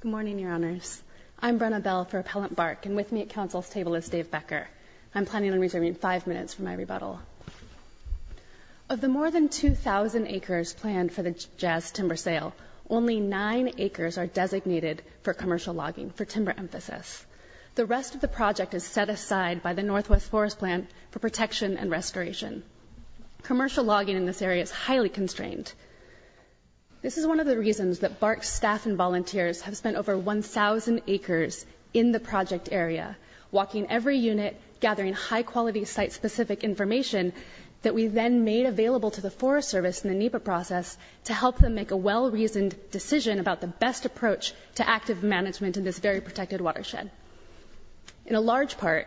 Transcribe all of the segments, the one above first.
Good morning, Your Honors. I'm Brenna Bell for Appellant Bark, and with me at Council's table is Dave Becker. I'm planning on reserving five minutes for my rebuttal. Of the more than 2,000 acres planned for the Jazz Timber Sale, only nine acres are designated for commercial logging, for timber emphasis. The rest of the project is set aside by the Northwest Forest Plant for protection and restoration. Commercial logging in this area is highly constrained. This is one of the reasons that Bark's staff and volunteers have spent over 1,000 acres in the project area, walking every unit, gathering high-quality, site-specific information that we then made available to the Forest Service in the NEPA process to help them make a well-reasoned decision about the best approach to active management in this very protected watershed. In a large part,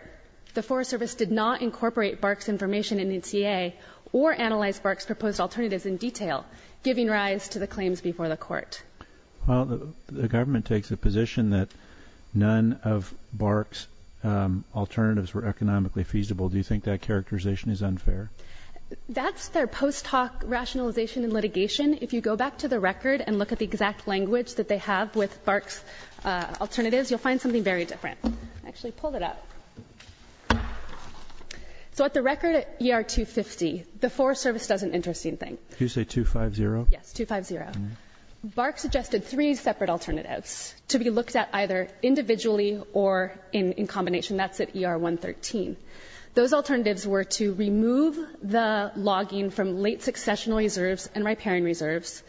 the Forest Service did not incorporate Bark's information in its EA or analyze Bark's proposed alternatives in detail, giving rise to the claims before the Court. Well, the government takes a position that none of Bark's alternatives were economically feasible. Do you think that characterization is unfair? That's their post hoc rationalization and litigation. If you go back to the record and look at the exact language that they have with Bark's alternatives, you'll find something very different. I actually pulled it up. So at the record at ER 250, the Forest Service does an interesting thing. Did you say 250? Yes, 250. Bark suggested three separate alternatives to be looked at either individually or in combination. That's at ER 113. Those alternatives were to remove the logging from late successional reserves and riparian reserves,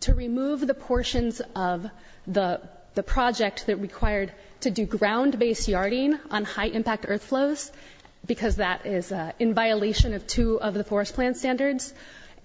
to remove the portions of the project that required to do ground-based yarding on high-impact earth flows because that is in violation of two of the forest plan standards,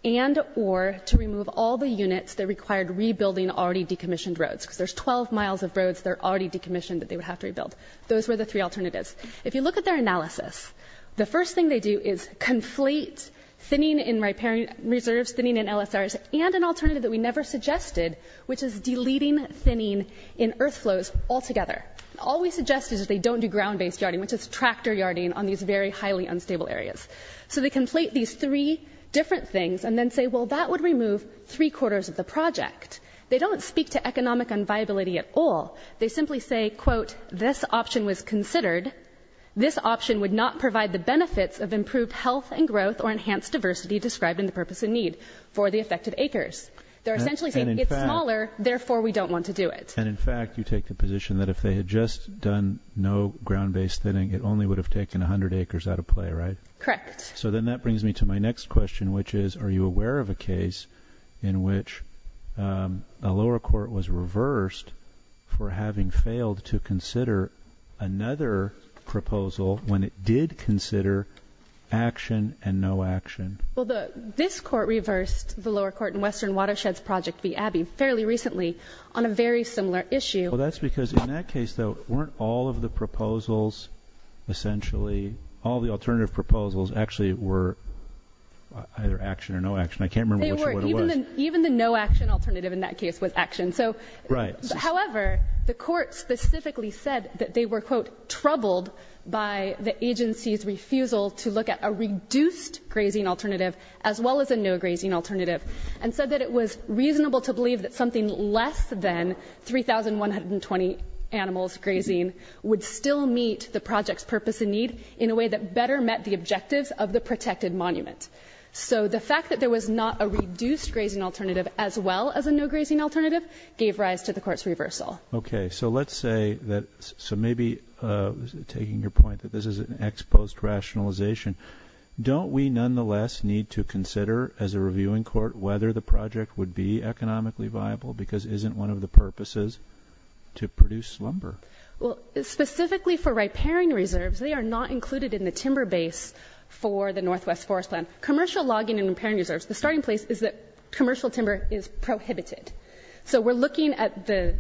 and or to remove all the units that required rebuilding already decommissioned roads. Because there's 12 miles of roads that are already decommissioned that they would have to rebuild. Those were the three alternatives. If you look at their analysis, the first thing they do is conflate thinning in riparian reserves, thinning in LSRs, and an alternative that we never suggested, which is deleting thinning in earth flows altogether. All we suggest is they don't do ground-based yarding, which is tractor yarding on these very highly unstable areas. So they conflate these three different things and then say, well, that would remove three-quarters of the project. They don't speak to economic unviability at all. They simply say, quote, this option was considered. They're essentially saying it's smaller, therefore we don't want to do it. And in fact, you take the position that if they had just done no ground-based thinning, it only would have taken 100 acres out of play, right? Correct. So then that brings me to my next question, which is, are you aware of a case in which a lower court was reversed for having failed to consider another proposal when it did consider action and no action? Well, this court reversed the lower court in Western Watersheds Project v. Abbey fairly recently on a very similar issue. Well, that's because in that case, though, weren't all of the proposals essentially, all the alternative proposals actually were either action or no action? I can't remember which or what it was. They were. Even the no action alternative in that case was action. Right. However, the court specifically said that they were, quote, troubled by the agency's refusal to look at a reduced grazing alternative as well as a no grazing alternative, and said that it was reasonable to believe that something less than 3,120 animals grazing would still meet the project's purpose and need in a way that better met the objectives of the protected monument. So the fact that there was not a reduced grazing alternative as well as a no grazing alternative gave rise to the court's reversal. Okay. So let's say that, so maybe taking your point that this is an ex post rationalization, don't we nonetheless need to consider as a reviewing court whether the project would be economically viable because it isn't one of the purposes to produce lumber? Well, specifically for riparian reserves, they are not included in the timber base for the Northwest Forest Plan. Commercial logging and riparian reserves, the starting place is that commercial timber is prohibited. So we're looking at the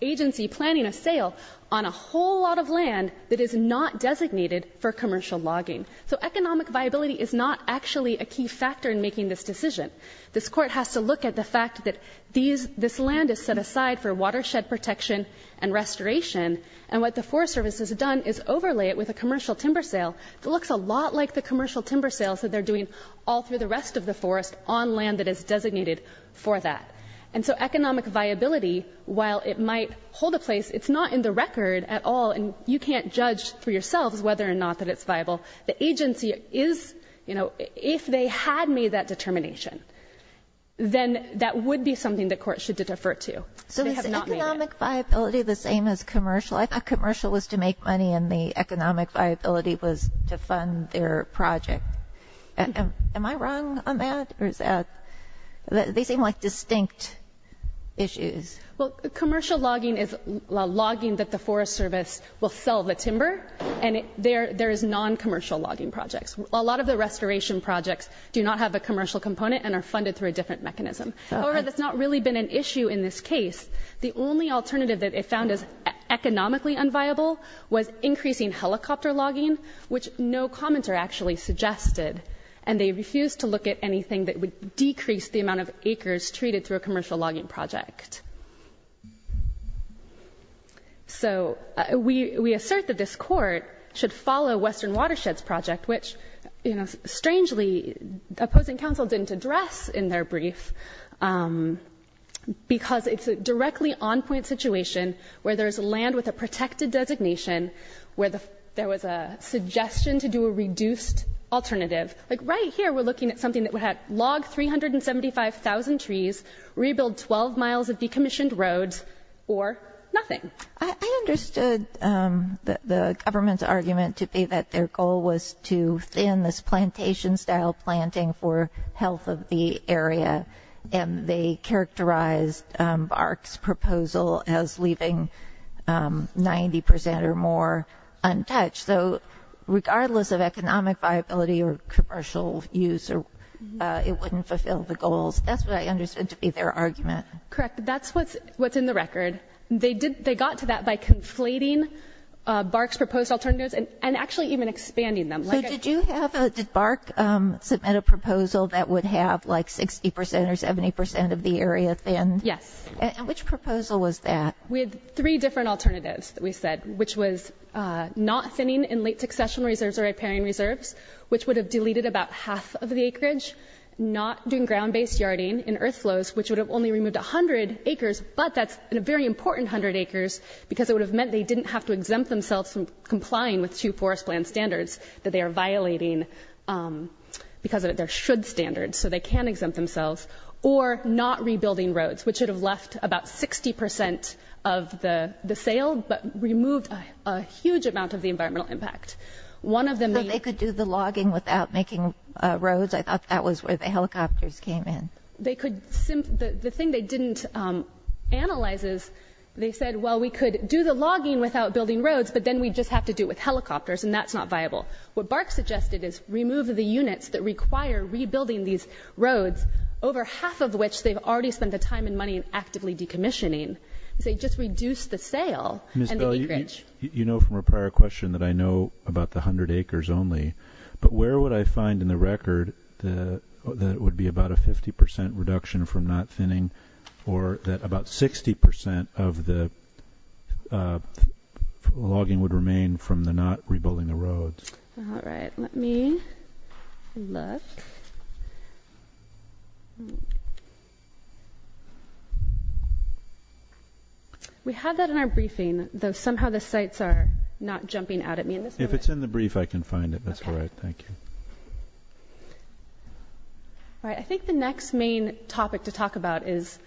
agency planning a sale on a whole lot of land that is not designated for commercial logging. So economic viability is not actually a key factor in making this decision. This court has to look at the fact that this land is set aside for watershed protection and restoration, and what the Forest Service has done is overlay it with a commercial timber sale that looks a lot like the commercial timber sales that they're doing all through the rest of the forest on land that is designated for that. And so economic viability, while it might hold a place, it's not in the record at all, and you can't judge for yourselves whether or not that it's viable. The agency is, you know, if they had made that determination, then that would be something the court should defer to. So is economic viability the same as commercial? I thought commercial was to make money and the economic viability was to fund their project. Am I wrong on that, or is that they seem like distinct issues? Well, commercial logging is logging that the Forest Service will sell the timber, and there is non-commercial logging projects. A lot of the restoration projects do not have a commercial component and are funded through a different mechanism. However, that's not really been an issue in this case. The only alternative that it found as economically unviable was increasing helicopter logging, which no commenter actually suggested, and they refused to look at anything that would decrease the amount of acres treated through a commercial logging project. So we assert that this court should follow Western Watersheds Project, which, you know, strangely, opposing counsel didn't address in their brief, because it's a directly on-point situation where there's land with a protected designation, where there was a suggestion to do a reduced alternative. Like right here, we're looking at something that would have logged 375,000 trees, rebuild 12 miles of decommissioned roads, or nothing. I understood the government's argument to be that their goal was to thin this plantation-style planting for health of the area, and they characterized BARC's proposal as leaving 90% or more untouched. So regardless of economic viability or commercial use, it wouldn't fulfill the goals. That's what I understood to be their argument. Correct. That's what's in the record. They got to that by conflating BARC's proposed alternatives and actually even expanding them. So did BARC submit a proposal that would have, like, 60% or 70% of the area thinned? Yes. And which proposal was that? We had three different alternatives that we said, which was not thinning in late succession reserves or repairing reserves, which would have deleted about half of the acreage, not doing ground-based yarding in earth flows, which would have only removed 100 acres, but that's a very important 100 acres, because it would have meant they didn't have to exempt themselves from complying with two forest plan standards that they are violating, because there should standards, so they can exempt themselves, or not rebuilding roads, which would have left about 60% of the sale, but removed a huge amount of the environmental impact. I thought they could do the logging without making roads. I thought that was where the helicopters came in. The thing they didn't analyze is they said, well, we could do the logging without building roads, but then we'd just have to do it with helicopters, and that's not viable. What BARC suggested is remove the units that require rebuilding these roads, over half of which they've already spent the time and money actively decommissioning. They just reduced the sale and the acreage. You know from a prior question that I know about the 100 acres only, but where would I find in the record that it would be about a 50% reduction from not thinning, or that about 60% of the logging would remain from the not rebuilding the roads? All right, let me look. We had that in our briefing, though somehow the sites are not jumping out at me in this moment. If it's in the brief, I can find it. That's all right. Thank you. All right, I think the next main topic to talk about is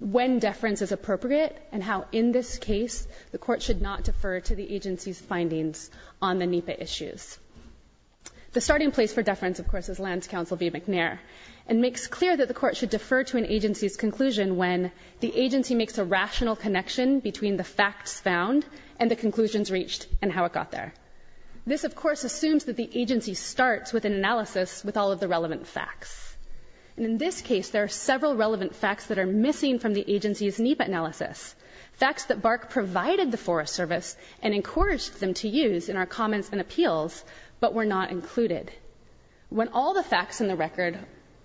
when deference is appropriate and how in this case the court should not defer to the agency's findings on the NEPA issues. The starting place for deference, of course, is Land Council v. McNair. the agency makes a rational connection between the facts found and the conclusions reached and how it got there. This, of course, assumes that the agency starts with an analysis with all of the relevant facts. And in this case, there are several relevant facts that are missing from the agency's NEPA analysis, facts that BARC provided the Forest Service and encouraged them to use in our comments and appeals, but were not included. When all the facts in the record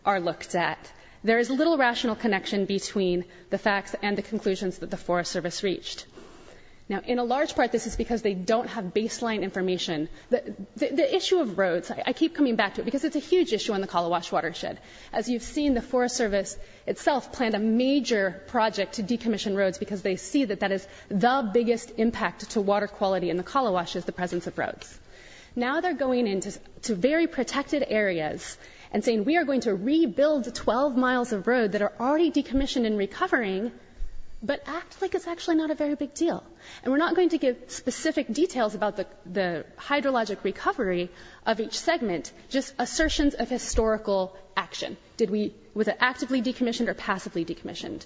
are looked at, there is little rational connection between the facts and the conclusions that the Forest Service reached. Now, in a large part, this is because they don't have baseline information. The issue of roads, I keep coming back to it because it's a huge issue on the Kalawash watershed. As you've seen, the Forest Service itself planned a major project to decommission roads because they see that that is the biggest impact to water quality in the Kalawash is the presence of roads. Now they're going into very protected areas and saying, we are going to rebuild 12 miles of road that are already decommissioned and recovering, but act like it's actually not a very big deal. And we're not going to give specific details about the hydrologic recovery of each segment, just assertions of historical action. Did we, was it actively decommissioned or passively decommissioned?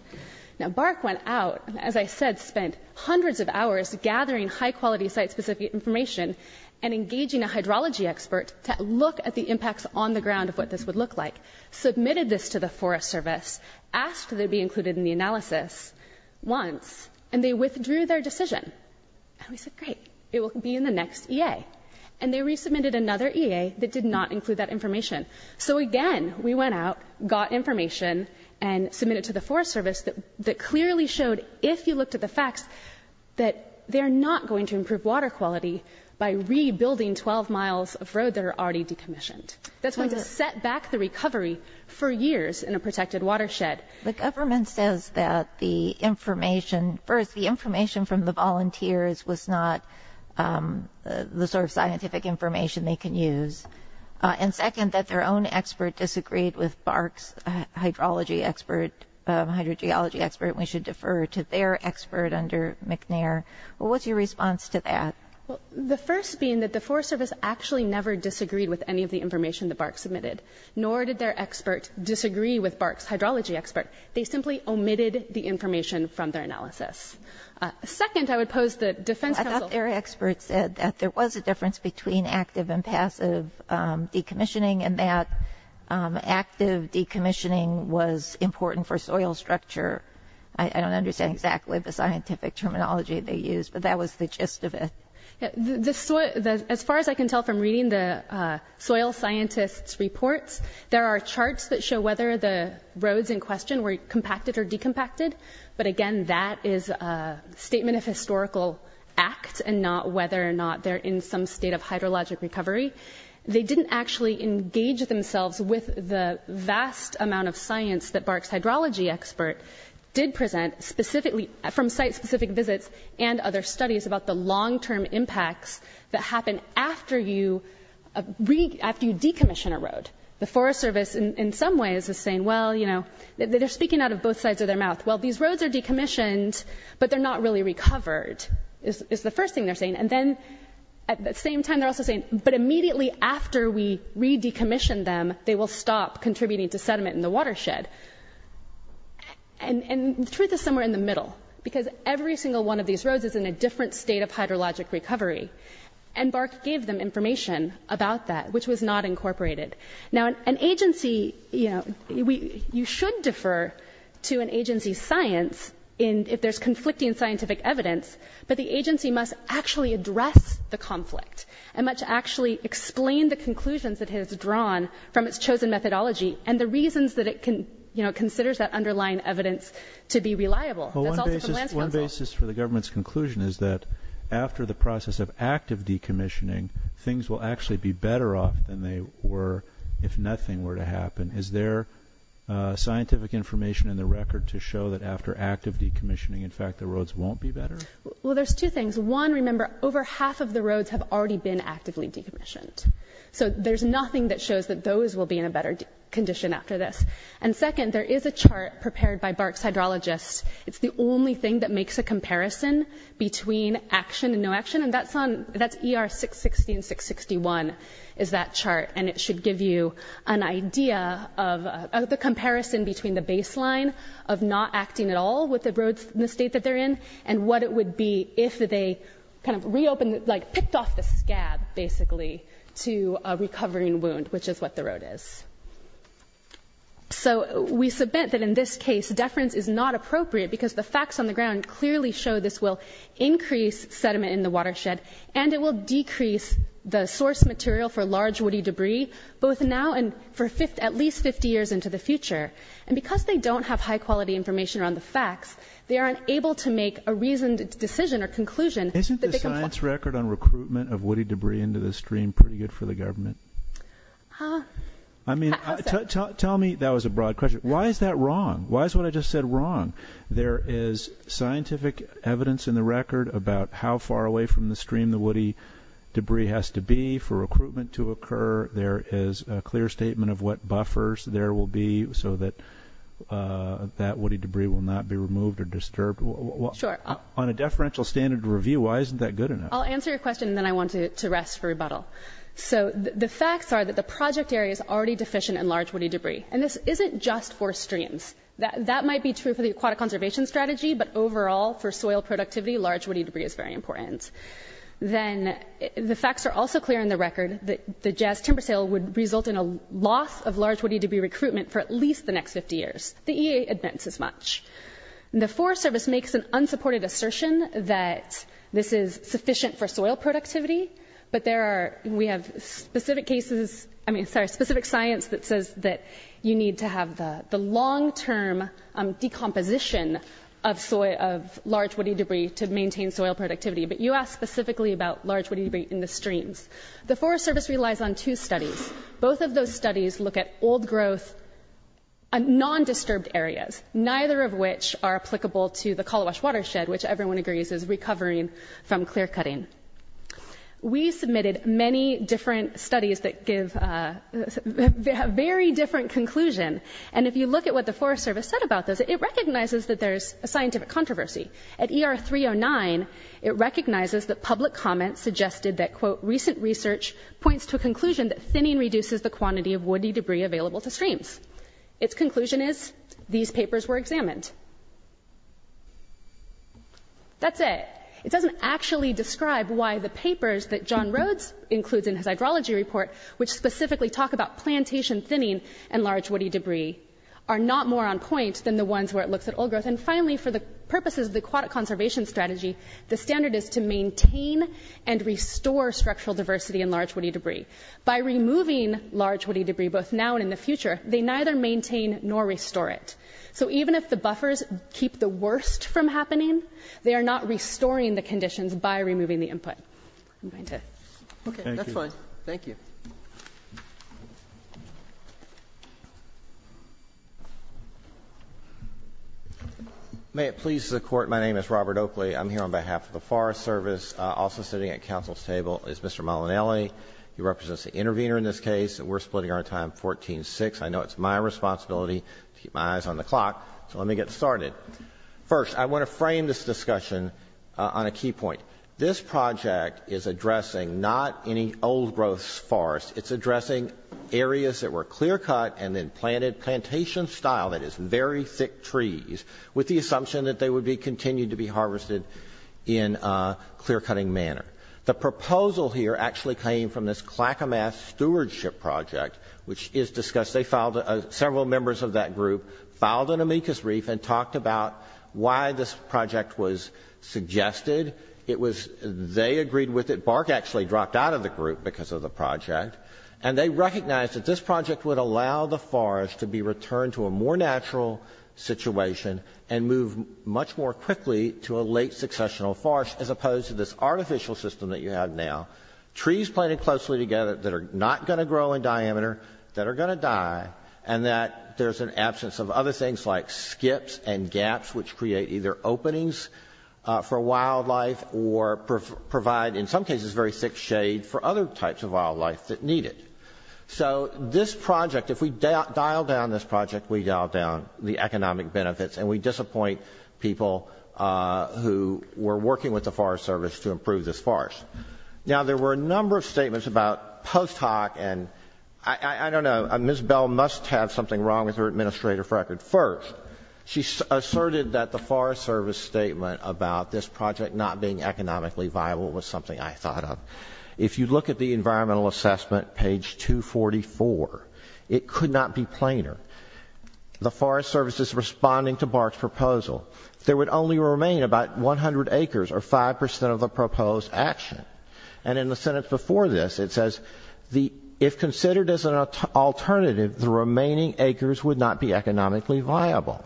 Now, BARC went out, as I said, spent hundreds of hours gathering high-quality site-specific information and engaging a hydrology expert to look at the impacts on the ground of what this would look like, submitted this to the Forest Service, asked to be included in the analysis once, and they withdrew their decision. And we said, great, it will be in the next EA. And they resubmitted another EA that did not include that information. So again, we went out, got information, and submitted to the Forest Service that clearly showed, if you looked at the facts, that they're not going to improve water quality by rebuilding 12 miles of road that are already decommissioned. That's going to set back the recovery for years in a protected watershed. The government says that the information, first, the information from the volunteers was not the sort of scientific information they can use. And second, that their own expert disagreed with BARC's hydrology expert, and we should defer to their expert under McNair. What's your response to that? Well, the first being that the Forest Service actually never disagreed with any of the information that BARC submitted, nor did their expert disagree with BARC's hydrology expert. They simply omitted the information from their analysis. Second, I would pose the defense counsel— I thought their expert said that there was a difference between active and passive decommissioning and that active decommissioning was important for soil structure. I don't understand exactly the scientific terminology they used, but that was the gist of it. As far as I can tell from reading the soil scientists' reports, there are charts that show whether the roads in question were compacted or decompacted, but again, that is a statement of historical act and not whether or not they're in some state of hydrologic recovery. They didn't actually engage themselves with the vast amount of science that BARC's hydrology expert did present from site-specific visits and other studies about the long-term impacts that happen after you decommission a road. The Forest Service, in some ways, is saying, well, you know, they're speaking out of both sides of their mouth. Well, these roads are decommissioned, but they're not really recovered is the first thing they're saying. And then, at the same time, they're also saying, but immediately after we re-decommission them, they will stop contributing to sediment in the watershed. And the truth is somewhere in the middle, because every single one of these roads is in a different state of hydrologic recovery, and BARC gave them information about that, which was not incorporated. Now, an agency, you know, you should defer to an agency's science if there's conflicting scientific evidence, but the agency must actually address the conflict and must actually explain the conclusions it has drawn from its chosen methodology and the reasons that it, you know, considers that underlying evidence to be reliable. Well, one basis for the government's conclusion is that after the process of active decommissioning, things will actually be better off than they were if nothing were to happen. Is there scientific information in the record to show that after active decommissioning, in fact, the roads won't be better? Well, there's two things. One, remember, over half of the roads have already been actively decommissioned. So there's nothing that shows that those will be in a better condition after this. And second, there is a chart prepared by BARC's hydrologists. It's the only thing that makes a comparison between action and no action, and that's ER 660 and 661 is that chart, and it should give you an idea of the comparison between the baseline of not acting at all with the roads in the state that they're in and what it would be if they kind of reopened, like picked off the scab, basically, to a recovering wound, which is what the road is. So we submit that in this case, deference is not appropriate because the facts on the ground clearly show this will increase sediment in the watershed and it will decrease the source material for large woody debris, And because they don't have high-quality information around the facts, they aren't able to make a reasoned decision or conclusion. Isn't the science record on recruitment of woody debris into the stream pretty good for the government? I mean, tell me, that was a broad question. Why is that wrong? Why is what I just said wrong? There is scientific evidence in the record about how far away from the stream the woody debris has to be for recruitment to occur. There is a clear statement of what buffers there will be so that that woody debris will not be removed or disturbed. Sure. On a deferential standard review, why isn't that good enough? I'll answer your question, and then I want to rest for rebuttal. So the facts are that the project area is already deficient in large woody debris. And this isn't just for streams. That might be true for the aquatic conservation strategy, but overall for soil productivity, large woody debris is very important. Then the facts are also clear in the record that the jazz timber sale would result in a loss of large woody debris recruitment for at least the next 50 years. The EA admits as much. The Forest Service makes an unsupported assertion that this is sufficient for soil productivity, but we have specific science that says that you need to have the long-term decomposition of large woody debris to maintain soil productivity. But you asked specifically about large woody debris in the streams. The Forest Service relies on two studies. Both of those studies look at old growth and non-disturbed areas, neither of which are applicable to the Kalawash watershed, which everyone agrees is recovering from clear-cutting. We submitted many different studies that give a very different conclusion. And if you look at what the Forest Service said about this, it recognizes that there's a scientific controversy. At ER 309, it recognizes that public comment suggested that, quote, recent research points to a conclusion that thinning reduces the quantity of woody debris available to streams. Its conclusion is these papers were examined. That's it. It doesn't actually describe why the papers that John Rhodes includes in his hydrology report, which specifically talk about plantation thinning and large woody debris, are not more on point than the ones where it looks at old growth. And finally, for the purposes of the aquatic conservation strategy, the standard is to maintain and restore structural diversity in large woody debris. By removing large woody debris, both now and in the future, they neither maintain nor restore it. So even if the buffers keep the worst from happening, they are not restoring the conditions by removing the input. Okay, that's fine. Thank you. May it please the Court. My name is Robert Oakley. I'm here on behalf of the Forest Service. Also sitting at counsel's table is Mr. Molinelli. He represents the intervener in this case. We're splitting our time 14-6. I know it's my responsibility to keep my eyes on the clock, so let me get started. First, I want to frame this discussion on a key point. This project is addressing not any old-growth forest. It's addressing areas that were clear-cut and then planted plantation-style, that is, very thick trees, with the assumption that they would continue to be harvested in a clear-cutting manner. The proposal here actually came from this Clackamas Stewardship Project, which is discussed. Several members of that group filed an amicus brief and talked about why this project was suggested. It was they agreed with it. Bark actually dropped out of the group because of the project. And they recognized that this project would allow the forest to be returned to a more natural situation and move much more quickly to a late successional forest, as opposed to this artificial system that you have now, trees planted closely together that are not going to grow in diameter, that are going to die, and that there's an absence of other things like skips and gaps, which create either openings for wildlife or provide, in some cases, very thick shade for other types of wildlife that need it. So this project, if we dial down this project, we dial down the economic benefits, and we disappoint people who were working with the Forest Service to improve this forest. Now, there were a number of statements about post hoc and, I don't know, Ms. Bell must have something wrong with her administrative record. First, she asserted that the Forest Service statement about this project not being economically viable was something I thought of. If you look at the environmental assessment, page 244, it could not be plainer. The Forest Service is responding to Bark's proposal. There would only remain about 100 acres or 5% of the proposed action. And in the sentence before this, it says, if considered as an alternative, the remaining acres would not be economically viable.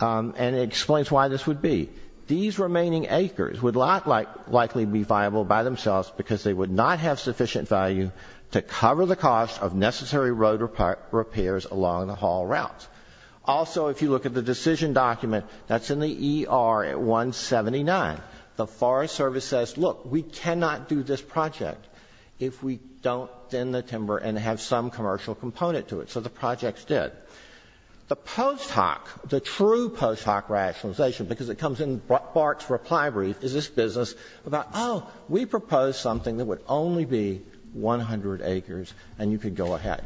And it explains why this would be. These remaining acres would likely be viable by themselves because they would not have sufficient value to cover the cost of necessary road repairs along the haul routes. Also, if you look at the decision document, that's in the ER at 179. The Forest Service says, look, we cannot do this project if we don't thin the timber and have some commercial component to it. So the projects did. The post hoc, the true post hoc rationalization, because it comes in Bark's reply brief, is this business about, oh, we propose something that would only be 100 acres and you could go ahead.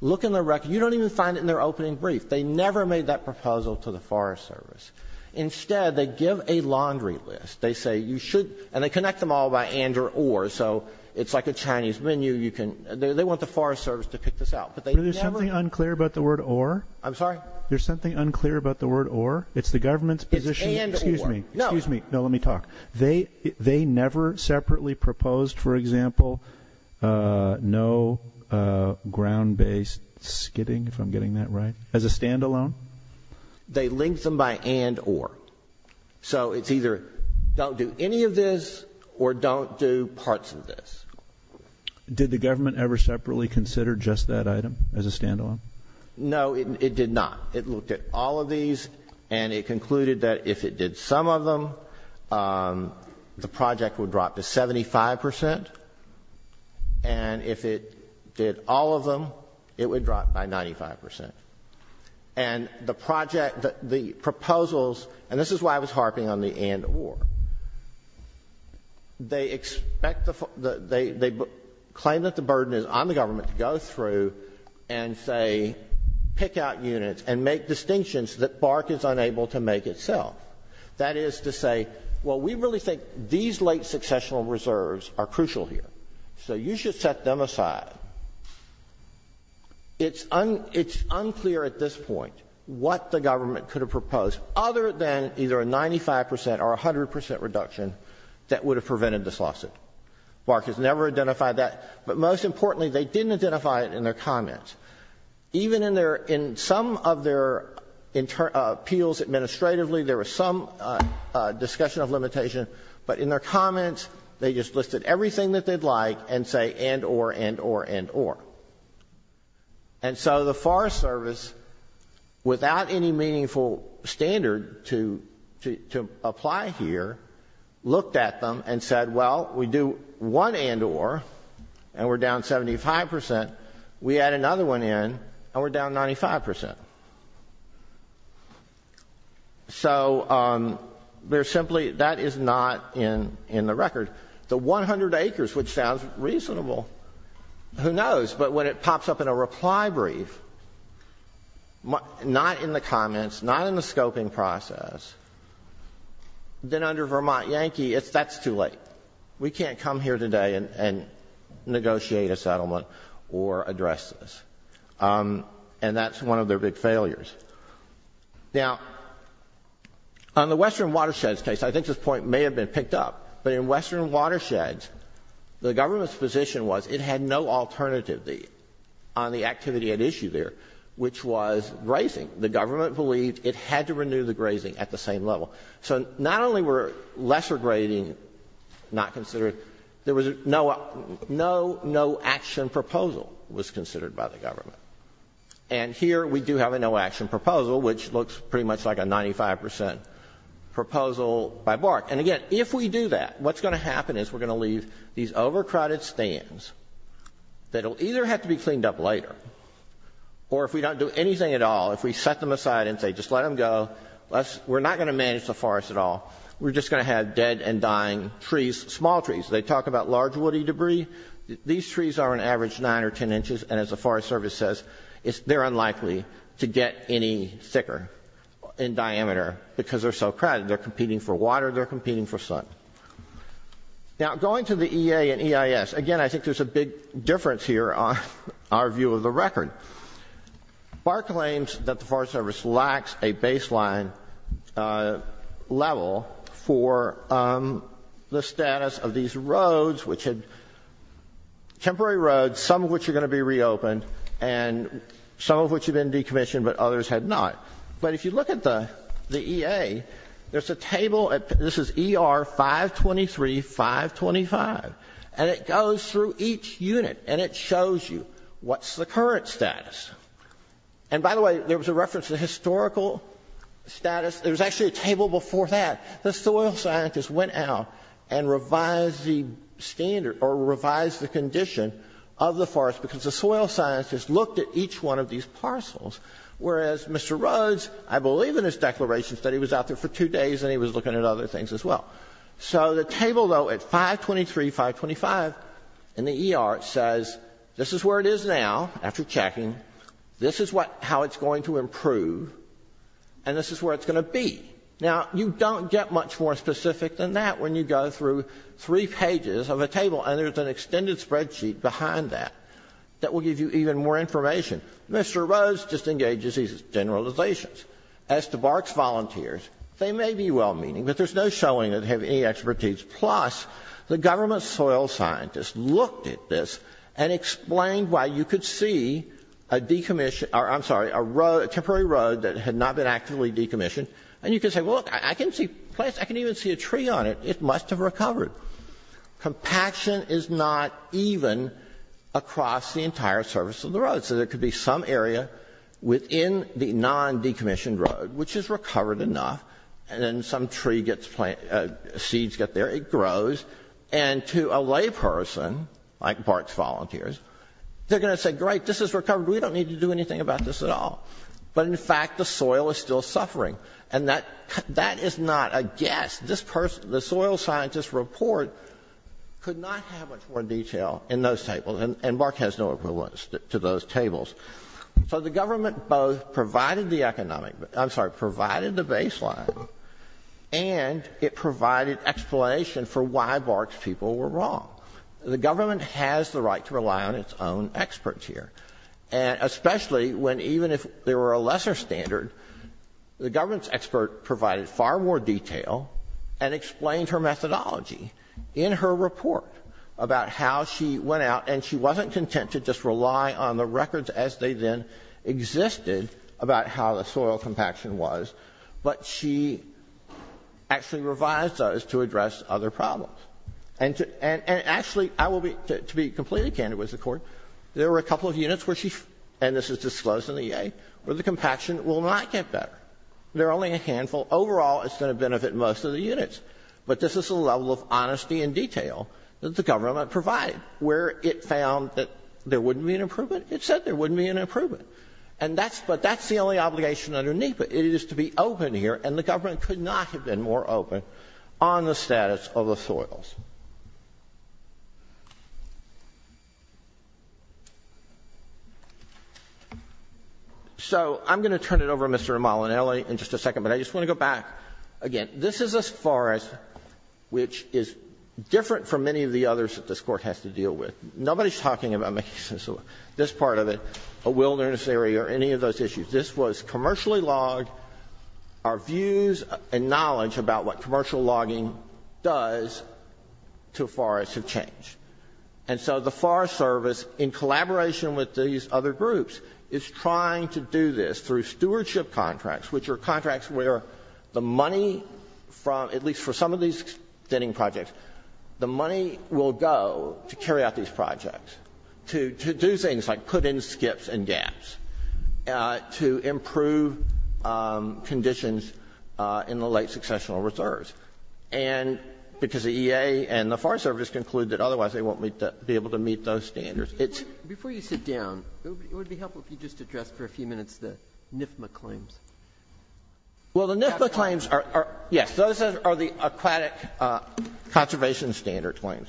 Look in the record. You don't even find it in their opening brief. They never made that proposal to the Forest Service. Instead, they give a laundry list. They say you should, and they connect them all by and or or. So it's like a Chinese menu. You can, they want the Forest Service to pick this out. But they never. There's something unclear about the word or. I'm sorry? There's something unclear about the word or. It's the government's position. It's and or. Excuse me. No. Excuse me. No, let me talk. They never separately proposed, for example, no ground-based skidding, if I'm getting that right, as a stand-alone? They linked them by and or. So it's either don't do any of this or don't do parts of this. Did the government ever separately consider just that item as a stand-alone? No, it did not. It looked at all of these, and it concluded that if it did some of them, the project would drop to 75 percent. And if it did all of them, it would drop by 95 percent. And the project, the proposals, and this is why I was harping on the and or. They expect the they claim that the burden is on the government to go through and say pick out units and make distinctions that BARC is unable to make itself. That is to say, well, we really think these late successional reserves are crucial here, so you should set them aside. It's unclear at this point what the government could have proposed other than either a 95 percent or a 100 percent reduction that would have prevented this lawsuit. BARC has never identified that. But most importantly, they didn't identify it in their comments. Even in some of their appeals administratively, there was some discussion of limitation. But in their comments, they just listed everything that they'd like and say and or, and or, and or. And so the Forest Service, without any meaningful standard to apply here, looked at them and said, well, we do one and or, and we're down 75 percent. We add another one in, and we're down 95 percent. So there's simply, that is not in the record. The 100 acres, which sounds reasonable. Who knows? But when it pops up in a reply brief, not in the comments, not in the scoping process, then under Vermont Yankee, that's too late. We can't come here today and negotiate a settlement or address this. And that's one of their big failures. Now, on the Western Watersheds case, I think this point may have been picked up, but in Western Watersheds, the government's position was it had no alternative on the activity at issue there, which was grazing. The government believed it had to renew the grazing at the same level. So not only were lesser grading not considered, there was no action proposal was considered by the government. And here we do have a no action proposal, which looks pretty much like a 95 percent proposal by BARC. And again, if we do that, what's going to happen is we're going to leave these overcrowded stands that will either have to be cleaned up later, or if we don't do anything at all, if we set them aside and say just let them go, we're not going to manage the forest at all. We're just going to have dead and dying trees, small trees. They talk about large woody debris. These trees are on average 9 or 10 inches, and as the Forest Service says, they're unlikely to get any thicker in diameter because they're so crowded. They're competing for water. They're competing for sun. Now, going to the EA and EIS, again, I think there's a big difference here on our view of the record. BARC claims that the Forest Service lacks a baseline level for the status of these roads, which had temporary roads, some of which are going to be reopened, and some of which have been decommissioned, but others have not. But if you look at the EA, there's a table. This is ER 523, 525, and it goes through each unit, and it shows you what's the current status. And by the way, there was a reference to historical status. There was actually a table before that. The soil scientists went out and revised the standard or revised the condition of the forest because the soil scientists looked at each one of these parcels, whereas Mr. Rhodes, I believe in his declaration that he was out there for two days and he was looking at other things as well. So the table, though, at 523, 525 in the ER says this is where it is now after checking, this is how it's going to improve, and this is where it's going to be. Now, you don't get much more specific than that when you go through three pages of a table and there's an extended spreadsheet behind that that will give you even more information. Mr. Rhodes just engages these generalizations. As to Barks Volunteers, they may be well-meaning, but there's no showing that they have any expertise. Plus, the government soil scientists looked at this and explained why you could see a decommissioned or, I'm sorry, a road, a temporary road that had not been actively decommissioned, and you could say, well, look, I can see plants. I can even see a tree on it. It must have recovered. Compaction is not even across the entire surface of the road. So there could be some area within the non-decommissioned road, which has recovered enough, and then some tree gets planted, seeds get there, it grows, and to a layperson like Barks Volunteers, they're going to say, great, this has recovered. We don't need to do anything about this at all. But, in fact, the soil is still suffering. And that is not a guess. This person, the soil scientist's report could not have much more detail in those tables. So the government both provided the economic, I'm sorry, provided the baseline, and it provided explanation for why Barks people were wrong. The government has the right to rely on its own experts here. And especially when even if there were a lesser standard, the government's expert provided far more detail and explained her methodology in her report about how she went out, and she wasn't content to just rely on the records as they then existed about how the soil compaction was, but she actually revised those to address other problems. And actually, I will be, to be completely candid with the Court, there were a couple of units where she, and this is disclosed in the EA, where the compaction will not get better. There are only a handful. Overall, it's going to benefit most of the units. But this is the level of honesty and detail that the government provided. Where it found that there wouldn't be an improvement, it said there wouldn't be an improvement. And that's, but that's the only obligation underneath it. It is to be open here, and the government could not have been more open on the status of the soils. So I'm going to turn it over to Mr. Molinelli in just a second, but I just want to go back again. This is a forest which is different from many of the others that this Court has to deal with. Nobody is talking about this part of it, a wilderness area or any of those issues. This was commercially logged. Our views and knowledge about what commercial logging does to forests have changed. And so the Forest Service, in collaboration with these other groups, is trying to do this through stewardship contracts, which are contracts where the money from, at least for some of these extending projects, the money will go to carry out these projects, to do things like put in skips and gaps, to improve conditions in the late successional reserves. And because the EA and the Forest Service conclude that otherwise they won't be able to meet those standards. Before you sit down, it would be helpful if you just addressed for a few minutes the NIFMA claims. Well, the NIFMA claims are, yes, those are the aquatic conservation standard claims.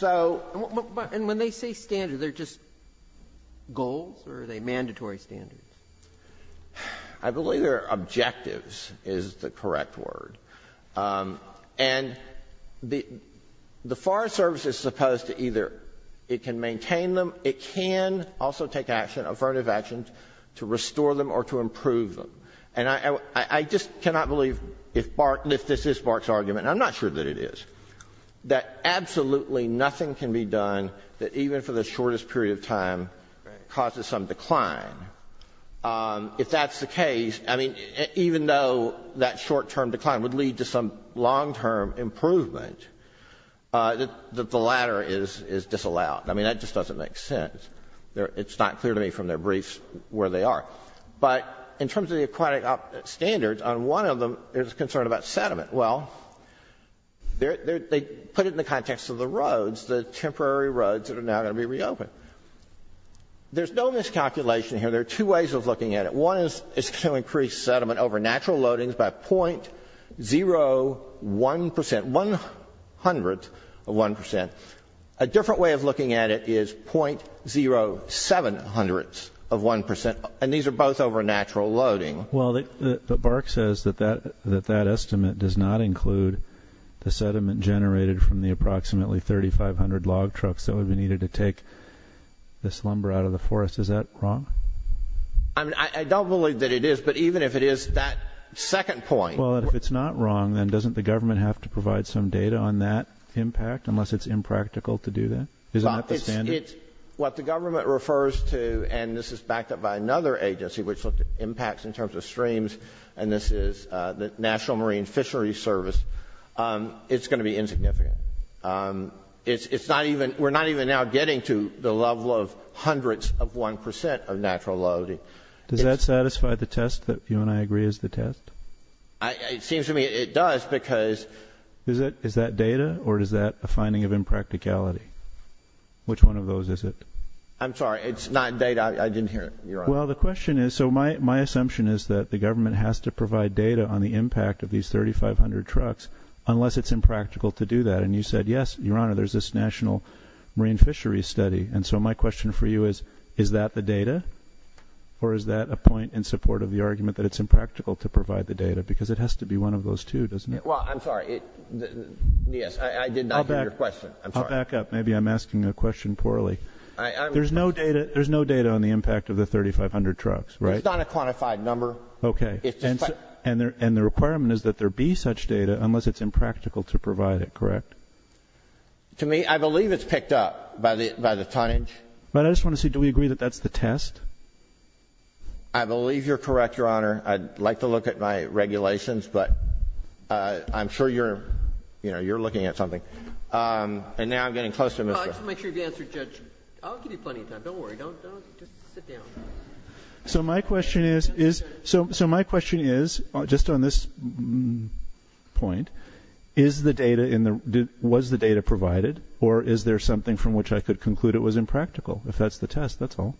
And when they say standard, are they just goals or are they mandatory standards? I believe they're objectives is the correct word. And the Forest Service is supposed to either, it can maintain them, it can also take action, affirmative action, to restore them or to improve them. And I just cannot believe if this is BART's argument, and I'm not sure that it is, that absolutely nothing can be done that even for the shortest period of time causes some decline. If that's the case, I mean, even though that short-term decline would lead to some long-term improvement, the latter is disallowed. I mean, that just doesn't make sense. It's not clear to me from their briefs where they are. But in terms of the aquatic standards, on one of them there's concern about sediment. Well, they put it in the context of the roads, the temporary roads that are now going to be reopened. There's no miscalculation here. There are two ways of looking at it. One is to increase sediment over natural loadings by 0.01 percent, one hundredth of one percent. A different way of looking at it is 0.07 hundredths of one percent, and these are both over natural loading. Well, but BART says that that estimate does not include the sediment generated from the approximately 3,500 log trucks that would be needed to take this lumber out of the forest. Is that wrong? I mean, I don't believe that it is, but even if it is, that second point... Well, if it's not wrong, then doesn't the government have to provide some data on that impact unless it's impractical to do that? Isn't that the standard? It's what the government refers to, and this is backed up by another agency which looked at impacts in terms of streams, and this is the National Marine Fisheries Service. It's going to be insignificant. We're not even now getting to the level of hundredths of one percent of natural loading. Does that satisfy the test that you and I agree is the test? It seems to me it does because... Is that data, or is that a finding of impracticality? Which one of those is it? I'm sorry, it's not data. I didn't hear you. Well, the question is, so my assumption is that the government has to provide data on the impact of these 3,500 trucks unless it's impractical to do that, and you said, yes, Your Honor, there's this National Marine Fisheries Study, and so my question for you is, is that the data, or is that a point in support of the argument that it's impractical to provide the data because it has to be one of those two, doesn't it? Well, I'm sorry. Yes, I did not hear your question. I'll back up. Maybe I'm asking a question poorly. There's no data on the impact of the 3,500 trucks, right? There's not a quantified number. Okay. And the requirement is that there be such data unless it's impractical to provide it, correct? To me, I believe it's picked up by the tonnage. But I just want to see, do we agree that that's the test? I believe you're correct, Your Honor. I'd like to look at my regulations, but I'm sure you're, you know, you're looking at something. And now I'm getting close to Mr. Just make sure you've answered, Judge. I'll give you plenty of time. Don't worry. Just sit down. So my question is, just on this point, was the data provided or is there something from which I could conclude it was impractical? If that's the test, that's all.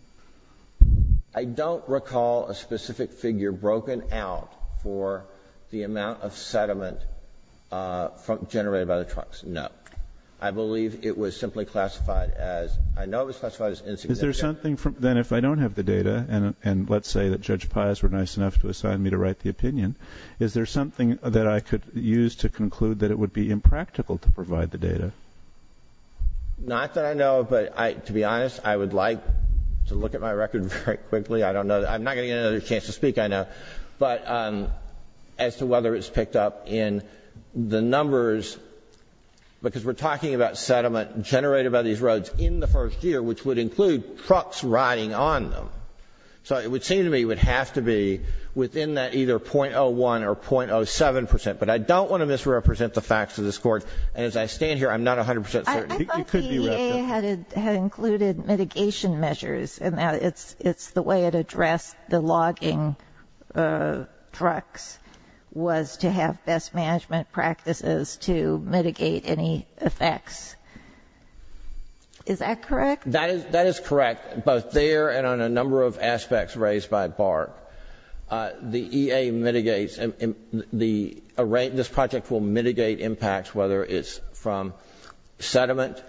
I don't recall a specific figure broken out for the amount of sediment generated by the trucks, no. I believe it was simply classified as, I know it was classified as insignificant. Then if I don't have the data and let's say that Judge Pius were nice enough to assign me to write the opinion, is there something that I could use to conclude that it would be impractical to provide the data? Not that I know of, but to be honest, I would like to look at my record very quickly. I don't know. I'm not going to get another chance to speak, I know. But as to whether it's picked up in the numbers, because we're talking about trucks riding on them. So it would seem to me it would have to be within that either .01 or .07 percent. But I don't want to misrepresent the facts of this Court. And as I stand here, I'm not 100 percent certain. I thought the EA had included mitigation measures in that. It's the way it addressed the logging trucks was to have best management practices to mitigate any effects. Is that correct? That is correct. Both there and on a number of aspects raised by BART. The EA mitigates. This project will mitigate impacts whether it's from sediment,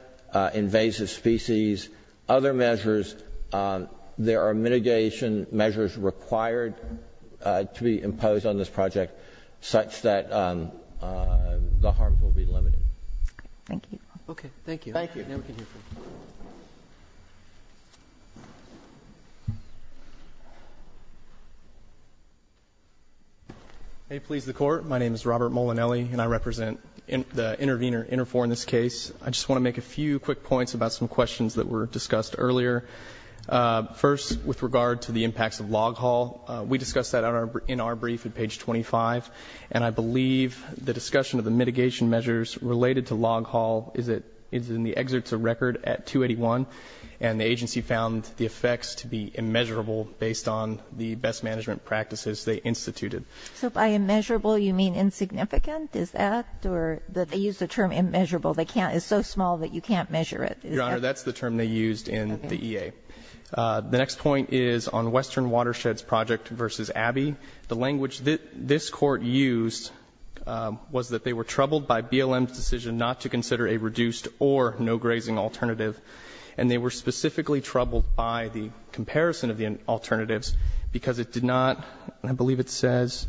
invasive species, other measures. There are mitigation measures required to be imposed on this project such that the harms will be limited. Thank you. Okay. Thank you. Now we can hear from you. May it please the Court. My name is Robert Molinelli, and I represent the intervener, Interfor, in this case. I just want to make a few quick points about some questions that were discussed earlier. First, with regard to the impacts of log haul, we discussed that in our brief at page 25. And I believe the discussion of the mitigation measures related to log haul is in the Exerts of Record at 281. And the agency found the effects to be immeasurable based on the best management practices they instituted. So by immeasurable, you mean insignificant? Is that? They used the term immeasurable. It's so small that you can't measure it. Your Honor, that's the term they used in the EA. The next point is on Western Watersheds Project versus Abbey. The language this Court used was that they were troubled by BLM's decision not to consider a reduced or no-grazing alternative. And they were specifically troubled by the comparison of the alternatives because it did not, I believe it says,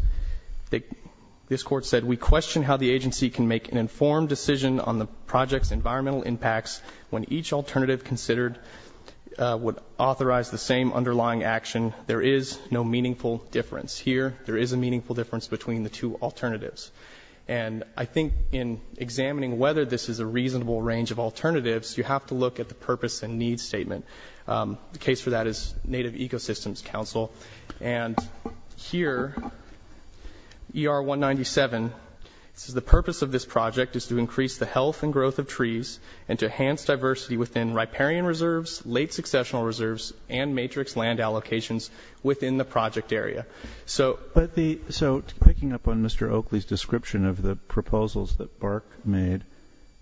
this Court said, we question how the agency can make an informed decision on the project's environmental impacts when each alternative considered would authorize the same underlying action. There is no meaningful difference. Here, there is a meaningful difference between the two alternatives. And I think in examining whether this is a reasonable range of alternatives, you have to look at the purpose and need statement. The case for that is Native Ecosystems Council. And here, ER 197, it says, the purpose of this project is to increase the health and growth of trees and to enhance diversity within riparian reserves, late successional reserves, and matrix land allocations within the project area. So picking up on Mr. Oakley's description of the proposals that BARC made,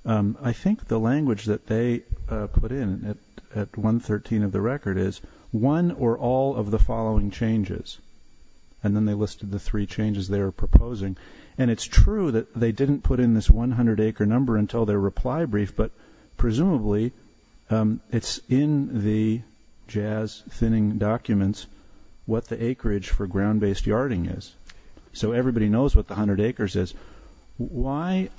I think the language that they put in at 113 of the record is one or all of the following changes. And then they listed the three changes they were proposing. And it's true that they didn't put in this 100-acre number until their reply brief, but presumably it's in the jazz-thinning documents what the acreage for ground-based yarding is. So everybody knows what the 100 acres is. Why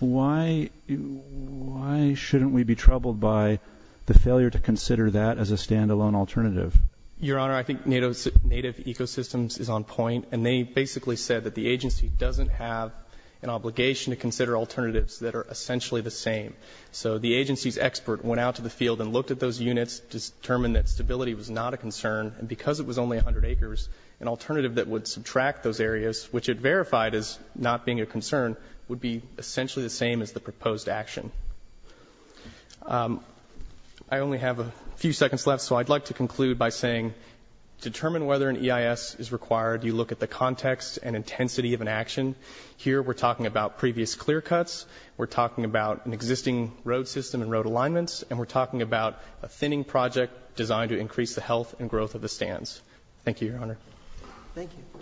shouldn't we be troubled by the failure to consider that as a standalone alternative? Your Honor, I think Native Ecosystems is on point, and they basically said that the agency doesn't have an obligation to consider alternatives that are essentially the same. So the agency's expert went out to the field and looked at those units, determined that stability was not a concern. And because it was only 100 acres, an alternative that would subtract those areas, which it verified as not being a concern, would be essentially the same as the proposed action. I only have a few seconds left, so I'd like to conclude by saying, determine whether an EIS is required. You look at the context and intensity of an action. Here we're talking about previous clear cuts. We're talking about an existing road system and road alignments. And we're talking about a thinning project designed to increase the health and growth of the stands. Thank you, Your Honor. Thank you.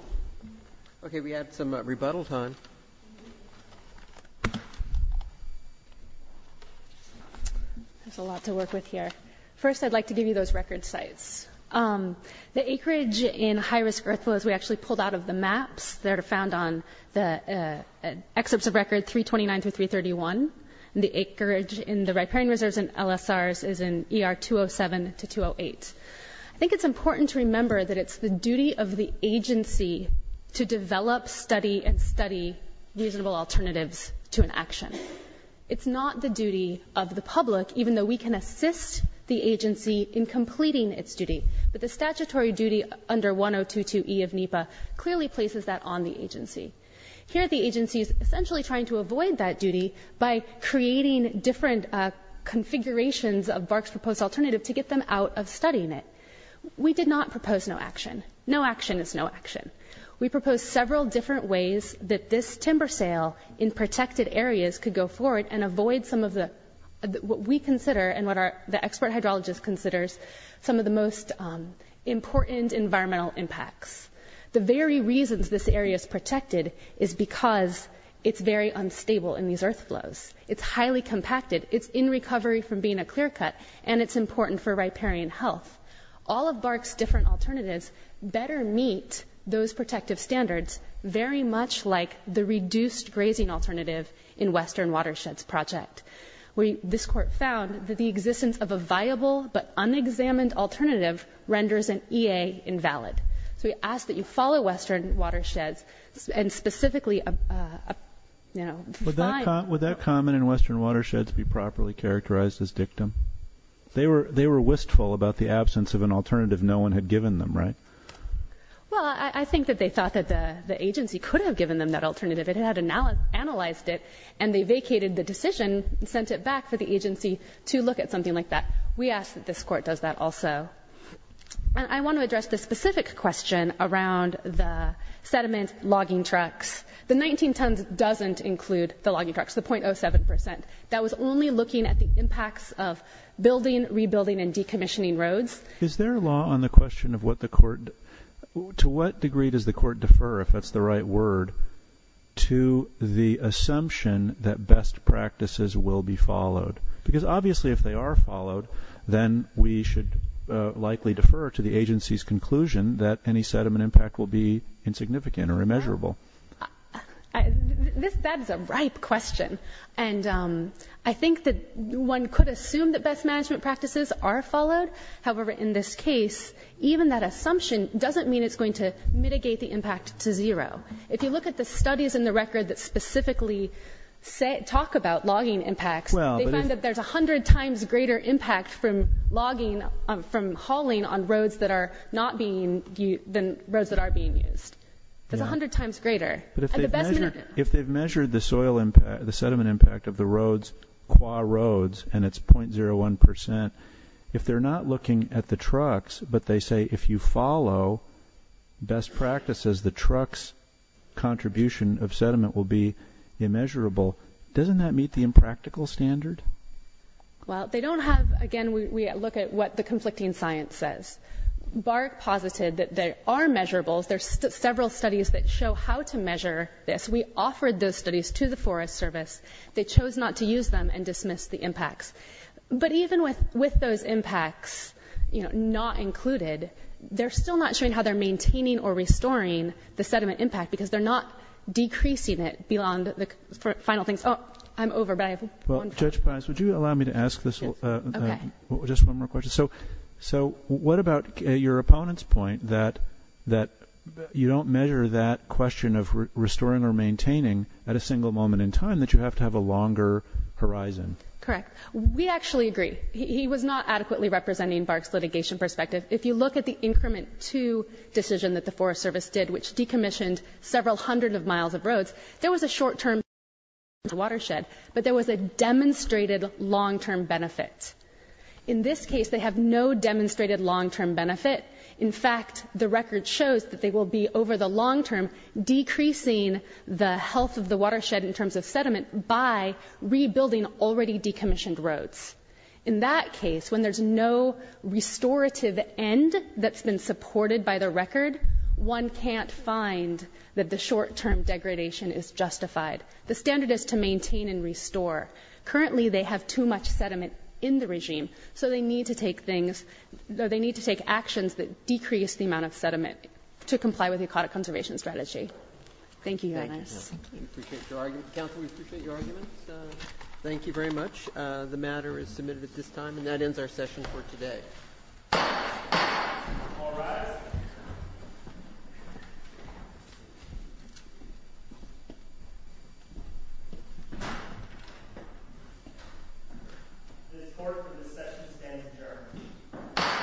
Okay. We have some rebuttal time. There's a lot to work with here. First, I'd like to give you those record sites. The acreage in high-risk earth flows we actually pulled out of the maps. They're found on the excerpts of record 329 through 331. And the acreage in the riparian reserves and LSRs is in ER 207 to 208. I think it's important to remember that it's the duty of the agency to develop, study, and study reasonable alternatives to an action. It's not the duty of the public, even though we can assist the agency in completing its duty. But the statutory duty under 1022E of NEPA clearly places that on the agency. Here the agency is essentially trying to avoid that duty by creating different configurations of BARC's proposed alternative to get them out of studying it. We did not propose no action. No action is no action. We proposed several different ways that this timber sale in protected areas could go forward and avoid some of the, what we consider and what the expert hydrologist considers, some of the most important environmental impacts. The very reasons this area is protected is because it's very unstable in these earth flows. It's highly compacted. It's in recovery from being a clear cut, and it's important for riparian health. All of BARC's different alternatives better meet those protective standards, very much like the reduced grazing alternative in Western Watersheds Project, where this court found that the existence of a viable but unexamined alternative renders an EA invalid. So we ask that you follow Western Watersheds and specifically, you know, define. Would that comment in Western Watersheds be properly characterized as dictum? They were wistful about the absence of an alternative no one had given them, right? Well, I think that they thought that the agency could have given them that alternative. It had analyzed it, and they vacated the decision and sent it back for the agency to look at something like that. We ask that this court does that also. I want to address the specific question around the sediment logging trucks. The 19 tons doesn't include the logging trucks, the 0.07 percent. That was only looking at the impacts of building, rebuilding, and decommissioning roads. Is there a law on the question of what the court, to what degree does the court defer, if that's the right word, to the assumption that best practices will be followed? Because obviously if they are followed, then we should likely defer to the agency's conclusion that any sediment impact will be insignificant or immeasurable. That is a ripe question. And I think that one could assume that best management practices are followed. However, in this case, even that assumption doesn't mean it's going to mitigate the impact to zero. If you look at the studies in the record that specifically talk about logging impacts, they find that there's 100 times greater impact from logging, from hauling, on roads that are not being used than roads that are being used. There's 100 times greater. But if they've measured the sediment impact of the roads, qua roads, and it's 0.01 percent, if they're not looking at the trucks but they say if you follow best practices, the truck's contribution of sediment will be immeasurable, doesn't that meet the impractical standard? Well, they don't have, again, we look at what the conflicting science says. BARC posited that there are measurables. There's several studies that show how to measure this. We offered those studies to the Forest Service. They chose not to use them and dismissed the impacts. But even with those impacts, you know, not included, they're still not showing how they're maintaining or restoring the sediment impact because they're not decreasing it beyond the final things. Oh, I'm over, but I have one question. Judge Paz, would you allow me to ask this? Okay. Just one more question. So what about your opponent's point that you don't measure that question of restoring or maintaining at a single moment in time, that you have to have a longer horizon? Correct. We actually agree. He was not adequately representing BARC's litigation perspective. If you look at the increment two decision that the Forest Service did, which decommissioned several hundred of miles of roads, there was a short-term benefit to the watershed, but there was a demonstrated long-term benefit. In this case, they have no demonstrated long-term benefit. In fact, the record shows that they will be over the long term decreasing the health of the watershed in terms of sediment by rebuilding already decommissioned roads. In that case, when there's no restorative end that's been supported by the record, one can't find that the short-term degradation is justified. The standard is to maintain and restore. Currently, they have too much sediment in the regime, so they need to take things or they need to take actions that decrease the amount of sediment to comply with the aquatic conservation strategy. Thank you, Your Honor. Thank you. We appreciate your argument. Counsel, we appreciate your arguments. Thank you very much. The matter is submitted at this time. And that ends our session for today. All rise. This court for this session stands adjourned.